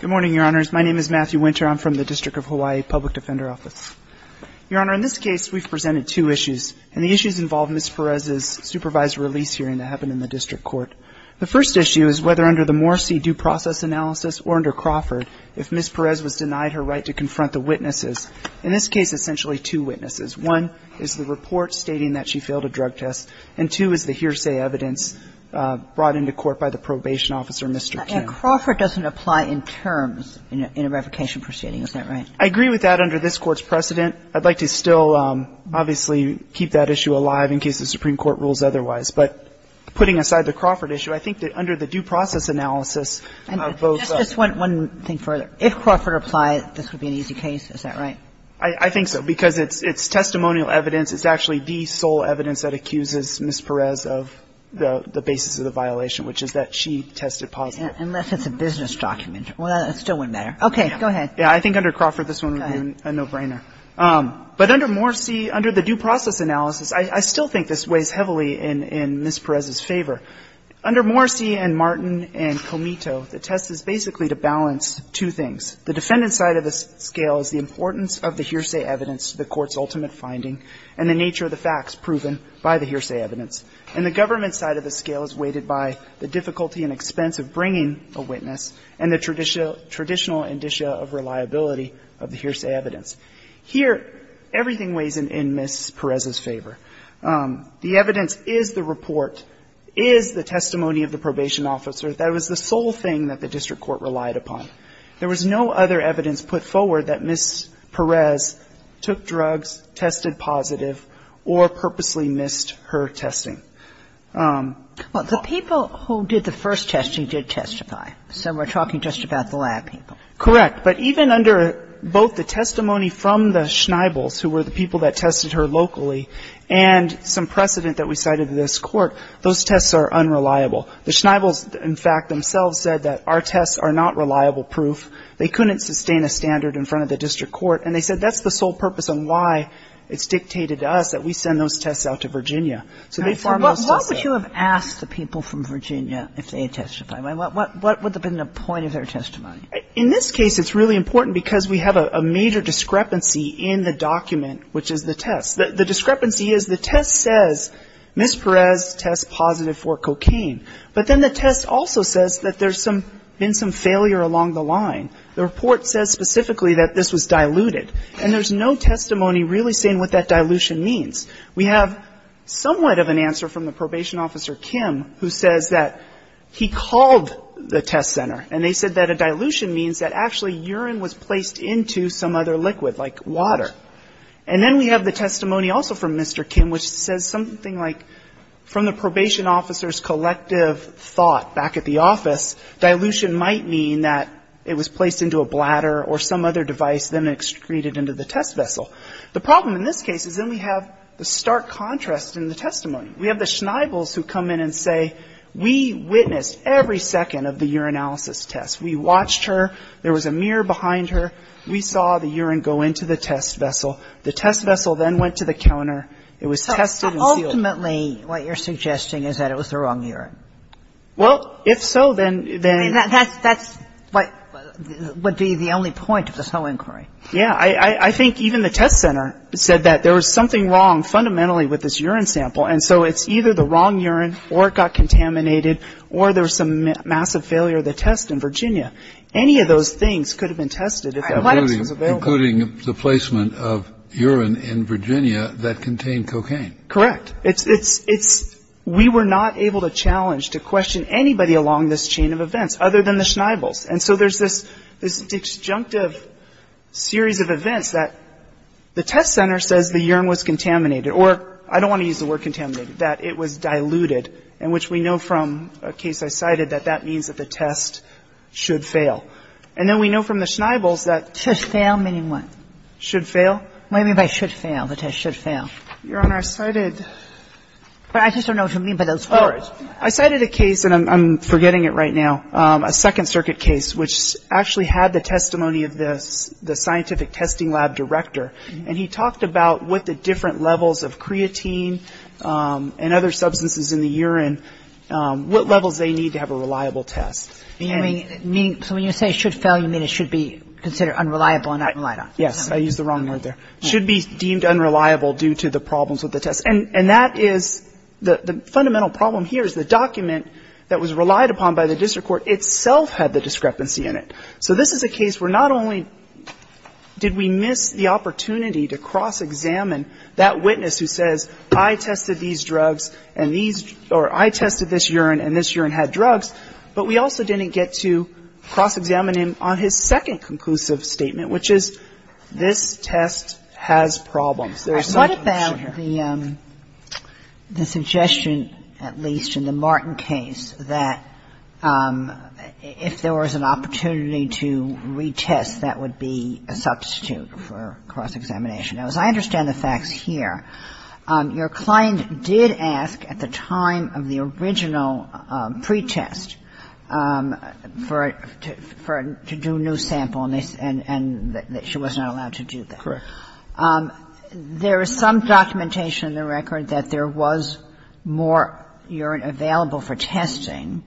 Good morning, Your Honors. My name is Matthew Winter. I'm from the District of Hawaii Public Defender Office. Your Honor, in this case, we've presented two issues, and the issues involve Ms. Perez's supervised release hearing that happened in the district court. The first issue is whether under the Morrisey due process analysis or under Crawford, if Ms. Perez was denied her right to confront the witnesses, in this case, essentially two witnesses. One is the report stating that she failed a drug test, and two is the hearsay evidence brought into court by the probation officer, Mr. Kim. And Crawford doesn't apply in terms in a revocation proceeding, is that right? I agree with that under this Court's precedent. I'd like to still, obviously, keep that issue alive in case the Supreme Court rules otherwise. But putting aside the Crawford issue, I think that under the due process analysis of both the Just one thing further. If Crawford applied, this would be an easy case, is that right? I think so, because it's testimonial evidence. It's actually the sole evidence that accuses Ms. Perez of the basis of the violation, which is that she tested positive. Unless it's a business document. Well, that still wouldn't matter. Okay. Go ahead. Yeah. I think under Crawford, this would be a no-brainer. But under Morrisey, under the due process analysis, I still think this weighs heavily in Ms. Perez's favor. Under Morrisey and Martin and Comito, the test is basically to balance two things. The defendant's side of the scale is the importance of the hearsay evidence, the Court's ultimate finding, and the nature of the facts proven by the hearsay evidence. And the government's side of the scale is weighted by the difficulty and expense of bringing a witness and the traditional indicia of reliability of the hearsay evidence. Here, everything weighs in Ms. Perez's favor. The evidence is the report, is the testimony of the probation officer. That was the sole thing that the district court relied upon. There was no other evidence put forward that Ms. Perez took drugs, tested positive, or purposely missed her testing. Well, the people who did the first testing did testify. So we're talking just about the lab people. Correct. But even under both the testimony from the Schneibels, who were the people that tested her locally, and some precedent that we cited in this Court, those tests are unreliable. The Schneibels, in fact, themselves said that our tests are not reliable proof. They couldn't sustain a standard in front of the district court. And they said that's the sole purpose on why it's dictated to us that we send those tests out to Virginia. So they far more so said that they're not reliable. But why would you have asked the people from Virginia if they had testified? What would have been the point of their testimony? In this case, it's really important because we have a major discrepancy in the document, which is the test. The discrepancy is the test says Ms. Perez tests positive for cocaine. But then the test also says that there's been some failure along the line. The report says specifically that this was diluted. And there's no testimony really saying what that dilution means. We have somewhat of an answer from the probation officer, Kim, who says that he called the test center, and they said that a dilution means that actually urine was placed into some other liquid, like water. And then we have the testimony also from Mr. Kim, which says something like, from the probation officer's collective thought back at the office, dilution might mean that it was placed into a bladder or some other device, then excreted into the test vessel. The problem in this case is then we have the stark contrast in the testimony. We have the schnabels who come in and say, we witnessed every second of the urinalysis test. We watched her. There was a mirror behind her. We saw the urine go into the test vessel. The test vessel then went to the counter. It was tested and sealed. Kagan. Ultimately, what you're suggesting is that it was the wrong urine. Well, if so, then then that's what would be the only point of this whole inquiry. Yeah. I think even the test center said that there was something wrong fundamentally with this urine sample. And so it's either the wrong urine or it got contaminated or there was some massive failure of the test in Virginia. Any of those things could have been tested if that was available. Including the placement of urine in Virginia that contained cocaine. Correct. It's it's it's we were not able to challenge to question anybody along this chain of questions. And so there's this this disjunctive series of events that the test center says the urine was contaminated or I don't want to use the word contaminated that it was diluted and which we know from a case I cited that that means that the test should fail. And then we know from the Schneibels that. Should fail meaning what? Should fail. What do you mean by should fail? The test should fail. Your Honor, I cited. But I just don't know what you mean by those words. I cited a case and I'm forgetting it right now. A Second Circuit case, which actually had the testimony of this, the scientific testing lab director. And he talked about what the different levels of creatine and other substances in the urine, what levels they need to have a reliable test. Meaning so when you say should fail, you mean it should be considered unreliable and unreliable. Yes. I use the wrong word there should be deemed unreliable due to the problems with the test. And that is the fundamental problem here is the document that was relied upon by the district court itself had the discrepancy in it. So this is a case where not only did we miss the opportunity to cross-examine that witness who says I tested these drugs and these or I tested this urine and this urine had drugs, but we also didn't get to cross-examine him on his second conclusive statement, which is this test has problems. There is some confusion here. The suggestion, at least in the Martin case, that if there was an opportunity to retest, that would be a substitute for cross-examination. Now, as I understand the facts here, your client did ask at the time of the original pretest for to do a new sample, and she was not allowed to do that. Correct. And I think that's a red herring. There is some documentation in the record that there was more urine available for testing.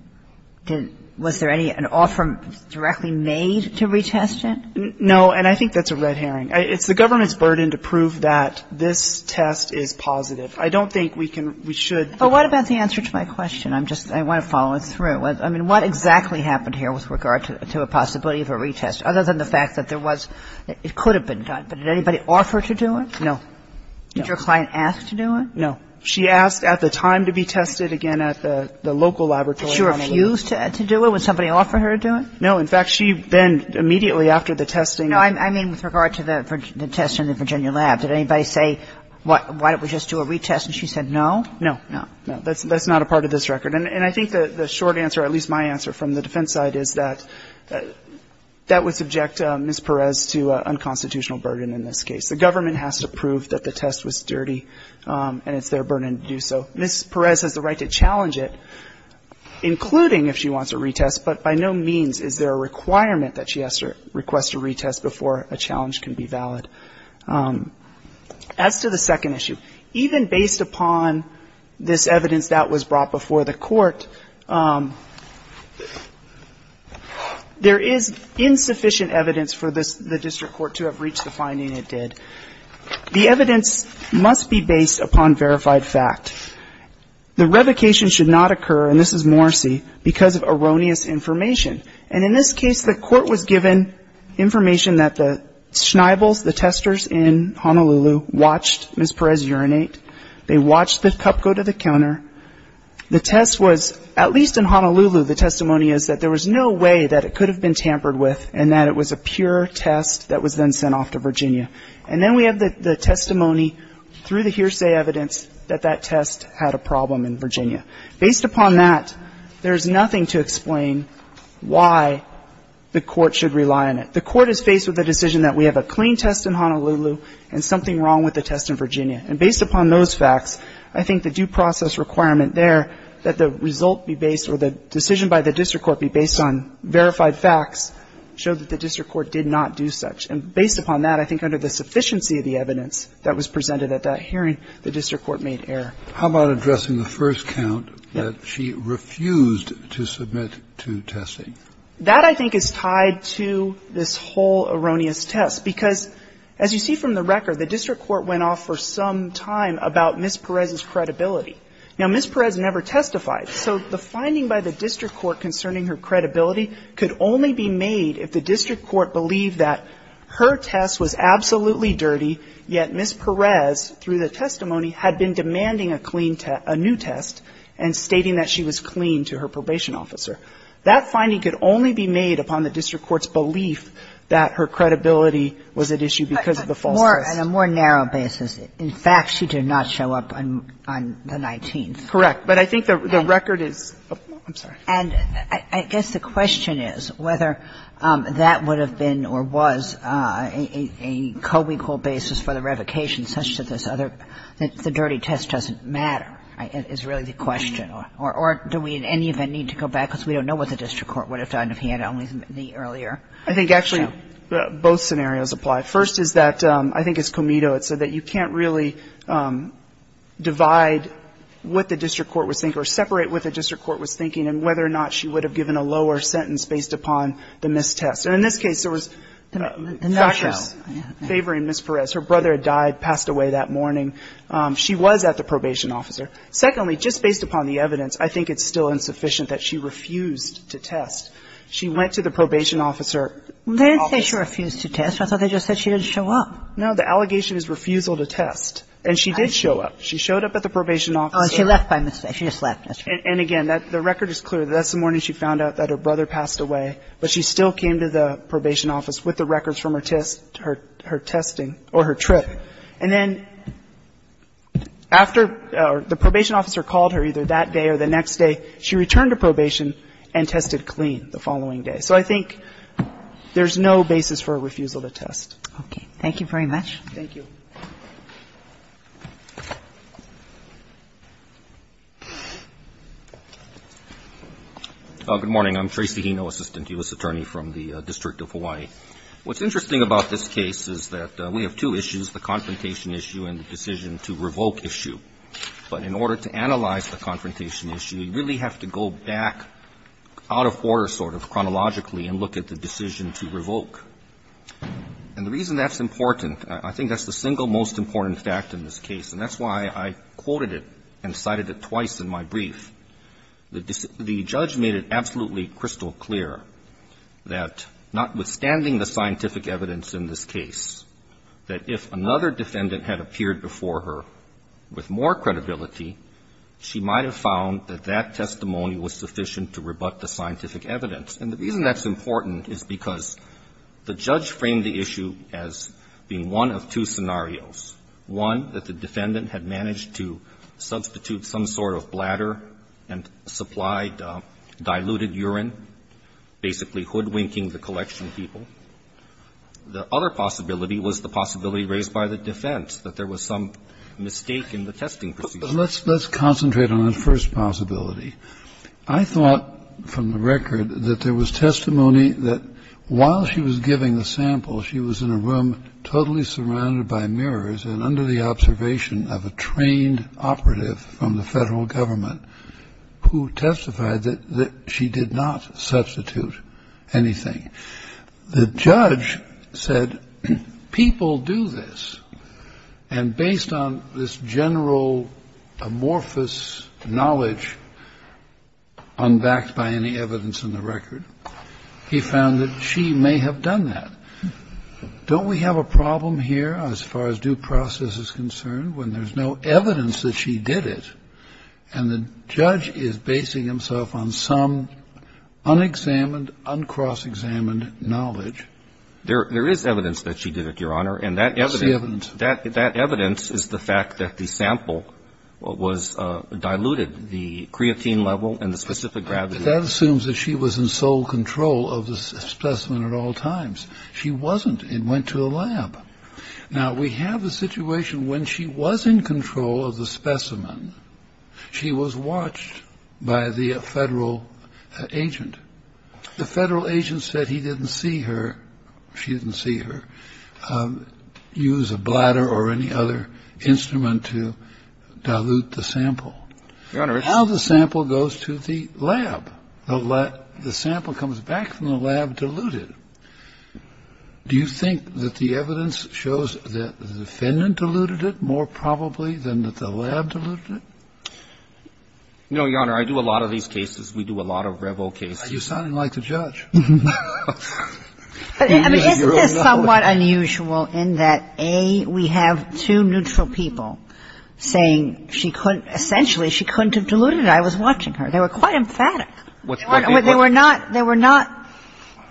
Was there any an offer directly made to retest it? No, and I think that's a red herring. It's the government's burden to prove that this test is positive. I don't think we can we should. But what about the answer to my question? I'm just I want to follow it through. I mean, what exactly happened here with regard to a possibility of a retest, other than the fact that there was it could have been done, but did anybody offer to do it? No. Did your client ask to do it? No. She asked at the time to be tested again at the local laboratory. Did she refuse to do it? Would somebody offer her to do it? No. In fact, she then immediately after the testing. I mean, with regard to the test in the Virginia lab, did anybody say, why don't we just do a retest? And she said no? No. No. No. That's not a part of this record. And I think the short answer, at least my answer from the defense side, is that that would subject Ms. Perez to unconstitutional burden in this case. The government has to prove that the test was dirty, and it's their burden to do so. Ms. Perez has the right to challenge it, including if she wants a retest, but by no means is there a requirement that she has to request a retest before a challenge can be valid. As to the second issue, even based upon this evidence that was brought before the court, there is insufficient evidence for the district court to have reached the finding it did. The evidence must be based upon verified fact. The revocation should not occur, and this is Morrissey, because of erroneous information. And in this case, the court was given information that the Schneibels, the testers in Honolulu, watched Ms. Perez urinate. They watched the cup go to the counter. The test was, at least in Honolulu, the testimony is that there was no way that it could have been tampered with and that it was a pure test that was then sent off to Virginia. And then we have the testimony through the hearsay evidence that that test had a problem in Virginia. Based upon that, there is nothing to explain why the court should rely on it. The court is faced with a decision that we have a clean test in Honolulu and something wrong with the test in Virginia. And based upon those facts, I think the due process requirement there that the result be based or the decision by the district court be based on verified facts showed that the district court did not do such. And based upon that, I think under the sufficiency of the evidence that was presented at that hearing, the district court made error. Kennedy. How about addressing the first count that she refused to submit to testing? That, I think, is tied to this whole erroneous test, because, as you see from the record, the district court went off for some time about Ms. Perez's credibility. Now, Ms. Perez never testified, so the finding by the district court concerning her credibility could only be made if the district court believed that her test was absolutely dirty, yet Ms. Perez, through the testimony, had been demanding a clean test, a new test, and stating that she was clean to her probation officer. That finding could only be made upon the district court's belief that her credibility was at issue because of the false test. Kagan in a more narrow basis. In fact, she did not show up on the 19th. Correct. But I think the record is – I'm sorry. And I guess the question is whether that would have been or was a co-equal basis for the revocation, such that this other – the dirty test doesn't matter, is really the question. Or do we in any event need to go back, because we don't know what the district court would have done if he had only made the earlier show. I think actually both scenarios apply. First is that – I think it's Comito that said that you can't really divide what the district court was thinking or separate what the district court was thinking and whether or not she would have given a lower sentence based upon the missed test. And in this case, there was factors favoring Ms. Perez. Her brother had died, passed away that morning. She was at the probation officer. Secondly, just based upon the evidence, I think it's still insufficient that she refused to test. She went to the probation officer. They didn't say she refused to test. I thought they just said she didn't show up. No. The allegation is refusal to test. And she did show up. She showed up at the probation officer. Oh, and she left by mistake. She just left. And again, the record is clear. That's the morning she found out that her brother passed away, but she still came to the probation office with the records from her test – her testing or her trip. And then after – the probation officer called her either that day or the next day. She returned to probation and tested clean the following day. So I think there's no basis for a refusal to test. Okay. Thank you very much. Thank you. Good morning. I'm Tracy Hino, Assistant U.S. Attorney from the District of Hawaii. What's interesting about this case is that we have two issues, the confrontation issue and the decision to revoke issue. But in order to analyze the confrontation issue, you really have to go back out of the border sort of chronologically and look at the decision to revoke. And the reason that's important – I think that's the single most important fact in this case, and that's why I quoted it and cited it twice in my brief. The judge made it absolutely crystal clear that notwithstanding the scientific evidence in this case, that if another defendant had appeared before her with more credibility, she might have found that that testimony was sufficient to rebut the scientific evidence. And the reason that's important is because the judge framed the issue as being one of two scenarios. One, that the defendant had managed to substitute some sort of bladder and supplied diluted urine, basically hoodwinking the collection people. The other possibility was the possibility raised by the defense, that there was some mistake in the testing procedure. Let's concentrate on the first possibility. I thought from the record that there was testimony that while she was giving the sample, she was in a room totally surrounded by mirrors and under the observation of a trained operative from the Federal Government who testified that she did not substitute anything. The judge said, people do this, and based on this general amorphous knowledge unbacked by any evidence in the record, he found that she may have done that. Don't we have a problem here as far as due process is concerned when there's no evidence that she did it and the judge is basing himself on some unexamined, uncross-examined knowledge? There is evidence that she did it, Your Honor, and that evidence is the fact that the creatine level and the specific gravity. But that assumes that she was in sole control of the specimen at all times. She wasn't. It went to a lab. Now, we have a situation when she was in control of the specimen, she was watched by the Federal agent. The Federal agent said he didn't see her, she didn't see her use a bladder or any other instrument to dilute the sample. Now the sample goes to the lab. The sample comes back from the lab diluted. Do you think that the evidence shows that the defendant diluted it more probably than that the lab diluted it? No, Your Honor. I do a lot of these cases. We do a lot of revo cases. You're sounding like the judge. Isn't this somewhat unusual in that, A, we have two neutral people saying she couldn't have diluted it? I was watching her. They were quite emphatic. They were not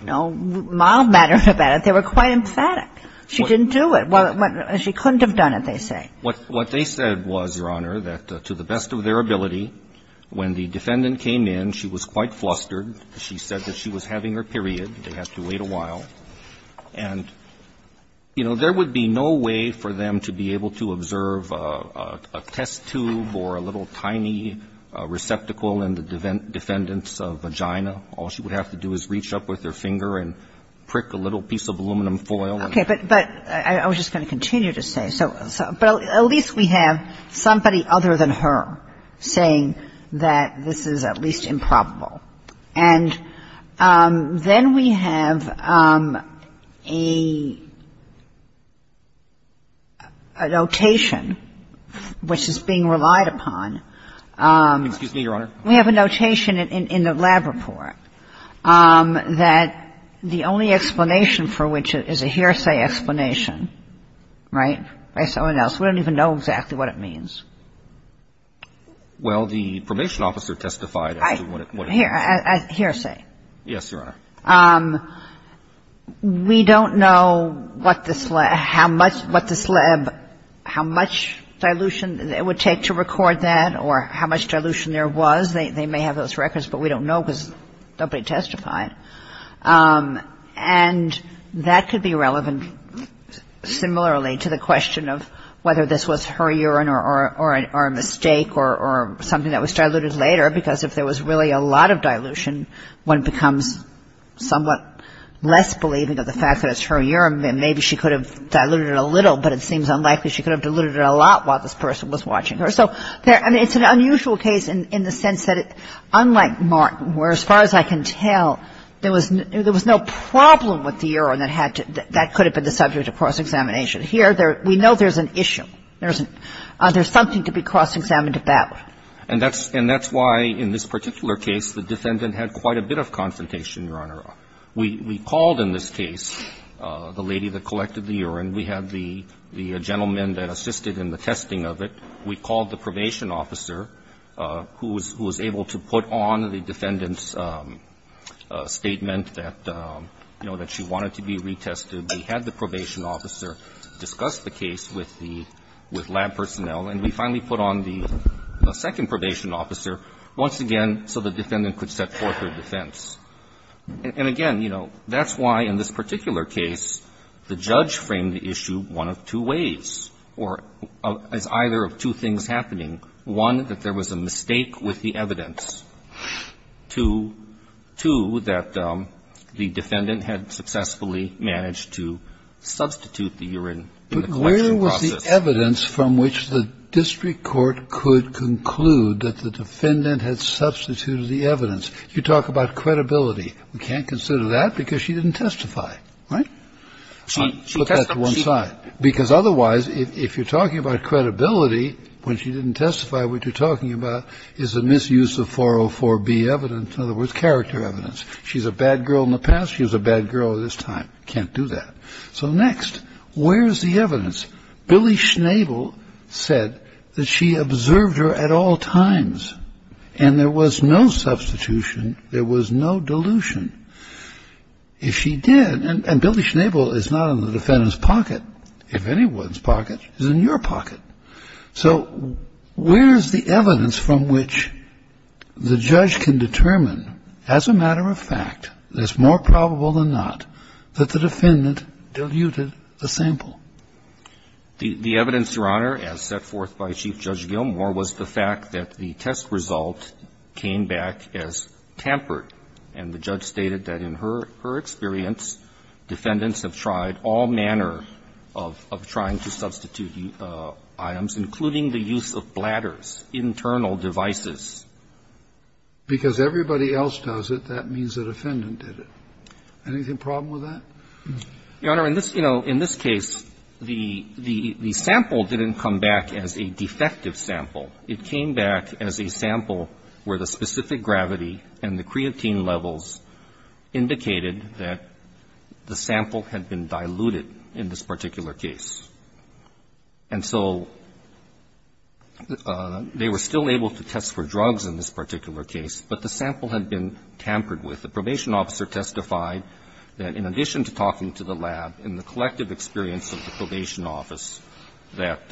mild-mannered about it. They were quite emphatic. She didn't do it. She couldn't have done it, they say. What they said was, Your Honor, that to the best of their ability, when the defendant came in, she was quite flustered. She said that she was having her period. They had to wait a while. And, you know, there would be no way for them to be able to observe a test tube or a little tiny receptacle in the defendant's vagina. All she would have to do is reach up with her finger and prick a little piece of aluminum foil. Okay. But I was just going to continue to say. But at least we have somebody other than her saying that this is at least improbable. And then we have a notation which is being relied upon. Excuse me, Your Honor. We have a notation in the lab report that the only explanation for which is a hearsay explanation, right, by someone else. We don't even know exactly what it means. Well, the probation officer testified as to what it means. Hearsay. Yes, Your Honor. We don't know what this lab, how much dilution it would take to record that or how much dilution there was. They may have those records. But we don't know because nobody testified. And that could be relevant similarly to the question of whether this was her urine or a mistake or something that was diluted later. Because if there was really a lot of dilution, one becomes somewhat less believing of the fact that it's her urine. Maybe she could have diluted it a little. But it seems unlikely she could have diluted it a lot while this person was watching her. So it's an unusual case in the sense that unlike Martin, where as far as I can tell, there was no problem with the urine that could have been the subject of cross-examination. Here we know there's an issue. There's something to be cross-examined about. And that's why in this particular case the defendant had quite a bit of confrontation, Your Honor. We called in this case the lady that collected the urine. We had the gentleman that assisted in the testing of it. We called the probation officer who was able to put on the defendant's statement that, you know, that she wanted to be retested. We had the probation officer discuss the case with lab personnel. And we finally put on the second probation officer once again so the defendant could set forth her defense. And again, you know, that's why in this particular case the judge framed the issue one of two ways or as either of two things happening. One, that there was a mistake with the evidence. Two, that the defendant had successfully managed to substitute the urine in the collection process. But where was the evidence from which the district court could conclude that the defendant had substituted the evidence? You talk about credibility. We can't consider that because she didn't testify, right? She testified. Put that to one side. Because otherwise if you're talking about credibility when she didn't testify, what you're talking about is a misuse of 404B evidence, in other words, character evidence. She's a bad girl in the past. She's a bad girl at this time. Can't do that. So next, where's the evidence? Billy Schnabel said that she observed her at all times. And there was no substitution. There was no dilution. If she did, and Billy Schnabel is not in the defendant's pocket. If anyone's pocket, he's in your pocket. So where's the evidence from which the judge can determine, as a matter of fact, it's more probable than not, that the defendant diluted the sample? The evidence, Your Honor, as set forth by Chief Judge Gilmore, was the fact that the test result came back as tampered. And the judge stated that in her experience, defendants have tried all manner of trying to substitute urine items, including the use of bladders, internal devices. Because everybody else does it, that means the defendant did it. Anything problem with that? Your Honor, in this case, the sample didn't come back as a defective sample. It came back as a sample where the specific gravity and the creatine levels indicated that the sample had been diluted in this particular case. And so they were still able to test for drugs in this particular case, but the sample had been tampered with. The probation officer testified that in addition to talking to the lab, in the collective experience of the probation office, that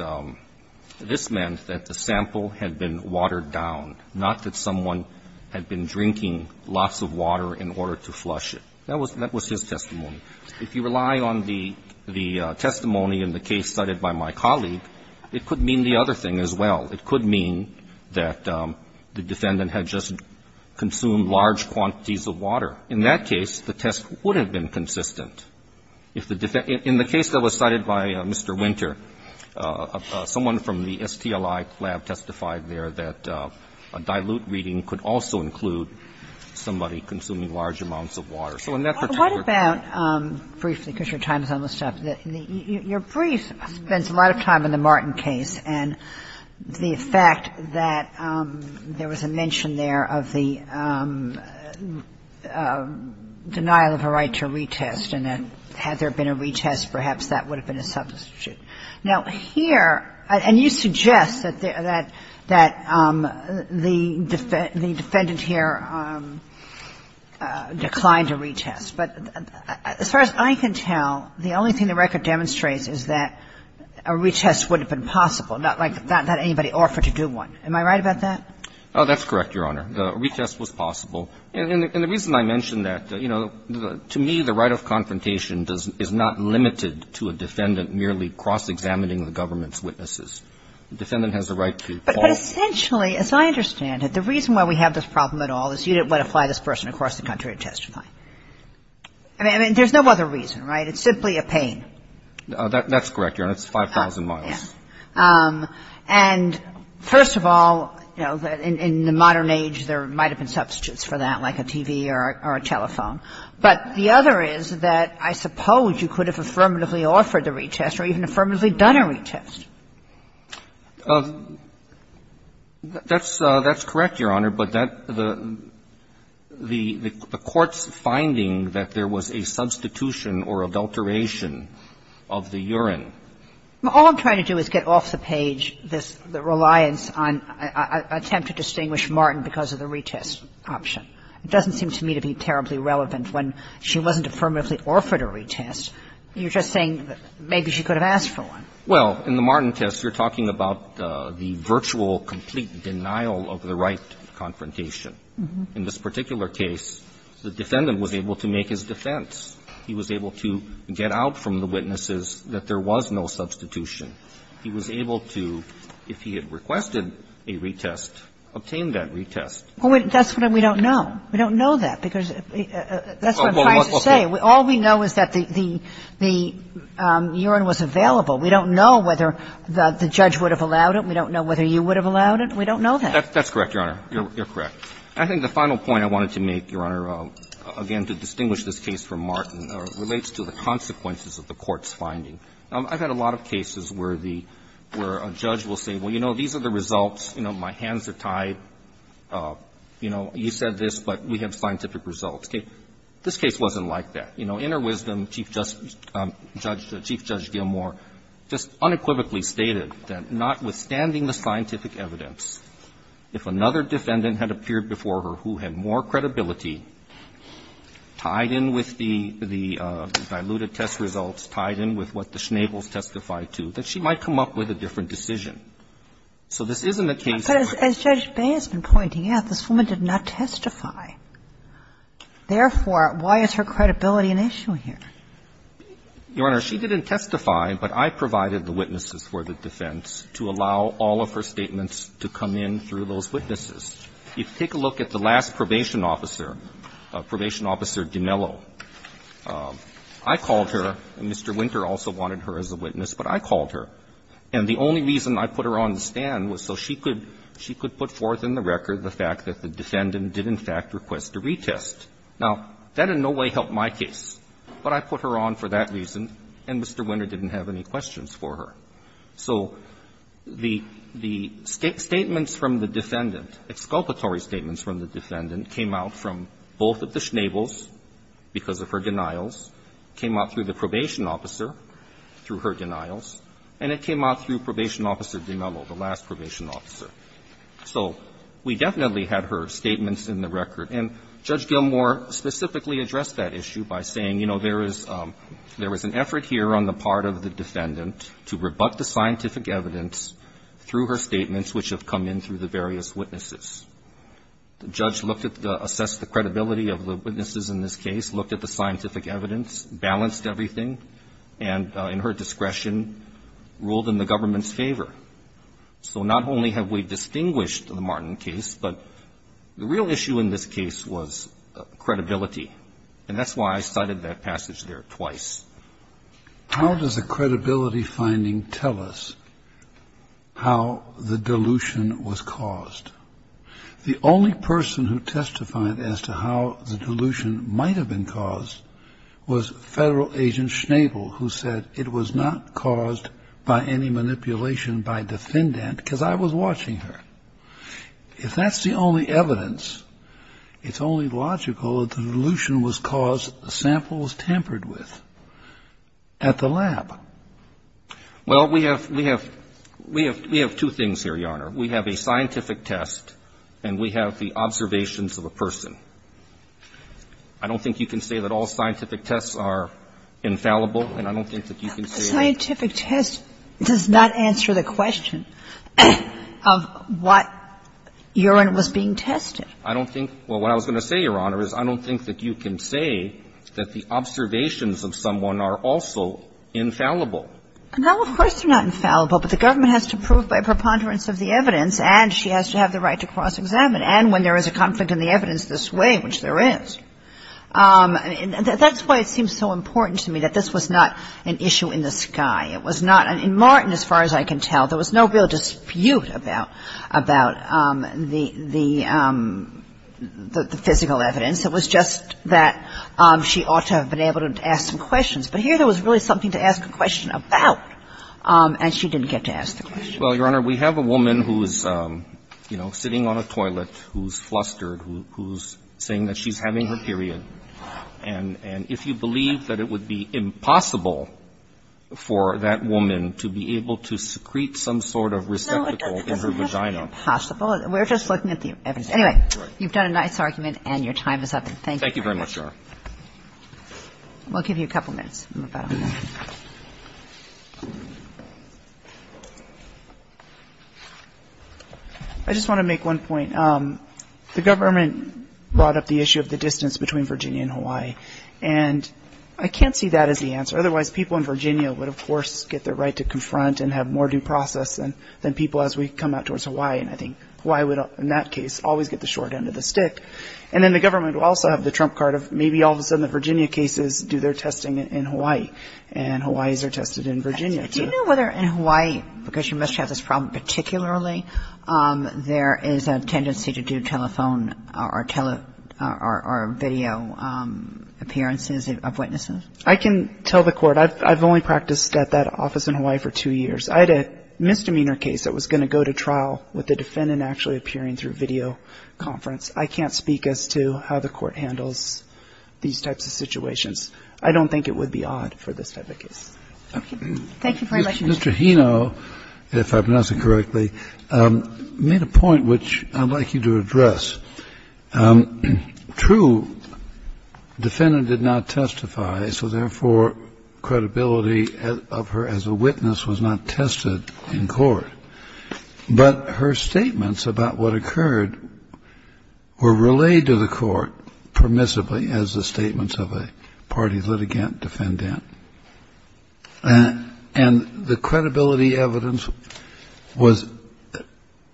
this meant that the sample had been watered down, not that someone had been drinking lots of water in order to flush it. That was his testimony. If you rely on the testimony in the case cited by my colleague, it could mean the other thing as well. It could mean that the defendant had just consumed large quantities of water. In that case, the test would have been consistent. In the case that was cited by Mr. Winter, someone from the STLI lab testified there that a dilute reading could also include somebody consuming large amounts of water. So in that particular case... Kagan So what about briefly, because your time is almost up, your brief spends a lot of time in the Martin case, and the fact that there was a mention there of the denial of a right to retest and that had there been a retest, perhaps that would have been a substitute. Now, here, and you suggest that the defendant here declined a retest. But as far as I can tell, the only thing the record demonstrates is that a retest would have been possible, not like anybody offered to do one. Am I right about that? Verrilli, Jr. Oh, that's correct, Your Honor. A retest was possible. And the reason I mention that, you know, to me, the right of confrontation is not limited to a defendant merely cross-examining the government's witnesses. The defendant has the right to call... Kagan But essentially, as I understand it, the reason why we have this problem at all is you didn't want to fly this person across the country to testify. I mean, there's no other reason, right? It's simply a pain. Verrilli, Jr. That's correct, Your Honor. It's 5,000 miles. Kagan Yes. And first of all, you know, in the modern age, there might have been substitutes for that, like a TV or a telephone. But the other is that I suppose you could have affirmatively offered a retest or even affirmatively done a retest. Verrilli, Jr. That's correct, Your Honor. But that the Court's finding that there was a substitution or adulteration of the urine... Kagan All I'm trying to do is get off the page this reliance on an attempt to distinguish Martin because of the retest option. It doesn't seem to me to be terribly relevant. When she wasn't affirmatively offered a retest, you're just saying maybe she could have asked for one. Verrilli, Jr. Well, in the Martin test, you're talking about the virtual complete denial of the right confrontation. In this particular case, the defendant was able to make his defense. He was able to get out from the witnesses that there was no substitution. He was able to, if he had requested a retest, obtain that retest. Kagan Well, that's what we don't know. We don't know that because that's what I'm trying to say. All we know is that the urine was available. We don't know whether the judge would have allowed it. We don't know whether you would have allowed it. We don't know that. Verrilli, Jr. That's correct, Your Honor. You're correct. I think the final point I wanted to make, Your Honor, again, to distinguish this case from Martin, relates to the consequences of the Court's finding. I've had a lot of cases where the judge will say, well, you know, these are the results. You know, my hands are tied. You know, you said this, but we have scientific results. This case wasn't like that. You know, in her wisdom, Chief Judge Gilmore just unequivocally stated that notwithstanding the scientific evidence, if another defendant had appeared before her who had more credibility tied in with the diluted test results, tied in with what the Schnabels testified to, that she might come up with a different decision. So this isn't a case where we're saying, well, this is a different case. Kagan But as Judge Bay has been pointing out, this woman did not testify. Therefore, why is her credibility an issue here? Roberts Your Honor, she didn't testify, but I provided the witnesses for the defense to allow all of her statements to come in through those witnesses. If you take a look at the last probation officer, Probation Officer Dinello, I called her, and Mr. Winter also wanted her as a witness, but I called her. And the only reason I put her on the stand was so she could put forth in the record the fact that the defendant did, in fact, request a retest. Now, that in no way helped my case, but I put her on for that reason, and Mr. Winter didn't have any questions for her. So the statements from the defendant, exculpatory statements from the defendant came out from both of the Schnabels, because of her denials, came out through the probation officer, through her denials, and it came out through Probation Officer Dinello, the last probation officer. So we definitely had her statements in the record. And Judge Gilmour specifically addressed that issue by saying, you know, there is an effort here on the part of the defendant to rebut the scientific evidence through her statements, which have come in through the various witnesses. The judge looked at the, assessed the credibility of the witnesses in this case, looked at the scientific evidence, balanced everything, and in her discretion, ruled in the government's favor. So not only have we distinguished the Martin case, but the real issue in this case was credibility, and that's why I cited that passage there twice. How does a credibility finding tell us how the dilution was caused? The only person who testified as to how the dilution might have been caused was Federal Agent Schnabel, who said it was not caused by any manipulation by defendant, because I was watching her. If that's the only evidence, it's only logical that the dilution was caused samples tampered with at the lab. Well, we have, we have, we have, we have two things here, Your Honor. We have a scientific test and we have the observations of a person. I don't think you can say that all scientific tests are infallible, and I don't think that you can say that. Scientific test does not answer the question of what urine was being tested. I don't think, well, what I was going to say, Your Honor, is I don't think that you can say that the observations of someone are also infallible. No, of course they're not infallible, but the government has to prove by preponderance of the evidence, and she has to have the right to cross-examine. And when there is a conflict in the evidence this way, which there is, that's why it seems so important to me that this was not an issue in the sky. It was not, in Martin, as far as I can tell, there was no real dispute about, about the, the, the physical evidence. It was just that she ought to have been able to ask some questions. But here there was really something to ask a question about, and she didn't get to ask the question. Well, Your Honor, we have a woman who's, you know, sitting on a toilet, who's flustered, who's saying that she's having her period. And, and if you believe that it would be impossible for that woman to be able to secrete some sort of receptacle in her vagina. No, it doesn't have to be impossible. We're just looking at the evidence. Anyway, you've done a nice argument, and your time is up. Thank you. Thank you very much, Your Honor. We'll give you a couple minutes. I just want to make one point. The government brought up the issue of the distance between Virginia and Hawaii. And I can't see that as the answer. Otherwise, people in Virginia would, of course, get their right to confront and have more due process than, than people as we come out towards Hawaii. And I think Hawaii would, in that case, always get the short end of the stick. And then the government will also have the trump card of maybe all of a sudden the Do you know whether in Hawaii, because you must have this problem particularly, there is a tendency to do telephone or tele, or, or video appearances of witnesses? I can tell the court. I've, I've only practiced at that office in Hawaii for two years. I had a misdemeanor case that was going to go to trial with a defendant actually appearing through video conference. I can't speak as to how the court handles these types of situations. I don't think it would be obvious. And that's my thought for this type of case. Thank you very much Mr. Chairman. Mr. Hino, if I pronounce it correctly, made a point which I'd like you to address. True, defendant did not testify, so therefore credibility of her as a witness was not tested in court. But her statements about what occurred were relayed to the court permissibly as the statements of a party litigant defendant. And the credibility evidence was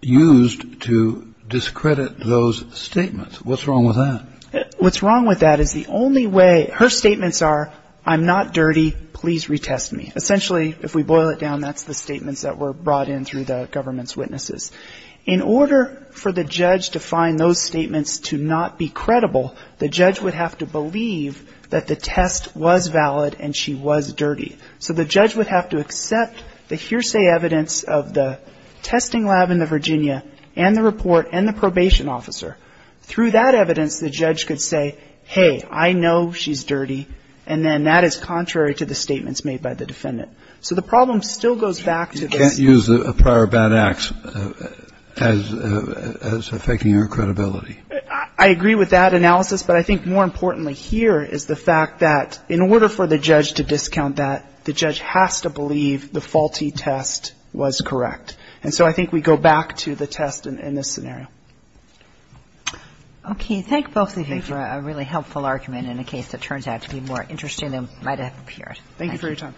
used to discredit those statements. What's wrong with that? What's wrong with that is the only way her statements are, I'm not dirty, please retest me. Essentially, if we boil it down, that's the statements that were brought in through the government's witnesses. In order for the judge to find those statements to not be credible, the judge would have to believe that the test was valid and she was dirty. So the judge would have to accept the hearsay evidence of the testing lab in the Virginia and the report and the probation officer. Through that evidence, the judge could say, hey, I know she's dirty, and then that is contrary to the statements made by the defendant. So the problem still goes back to this. You can't use a prior bad act as affecting her credibility. I agree with that analysis, but I think more importantly here is the fact that in order for the judge to discount that, the judge has to believe the faulty test was correct. And so I think we go back to the test in this scenario. Okay. Thank both of you for a really helpful argument in a case that turns out to be more interesting than it might have appeared. Thank you. Thank you for your time.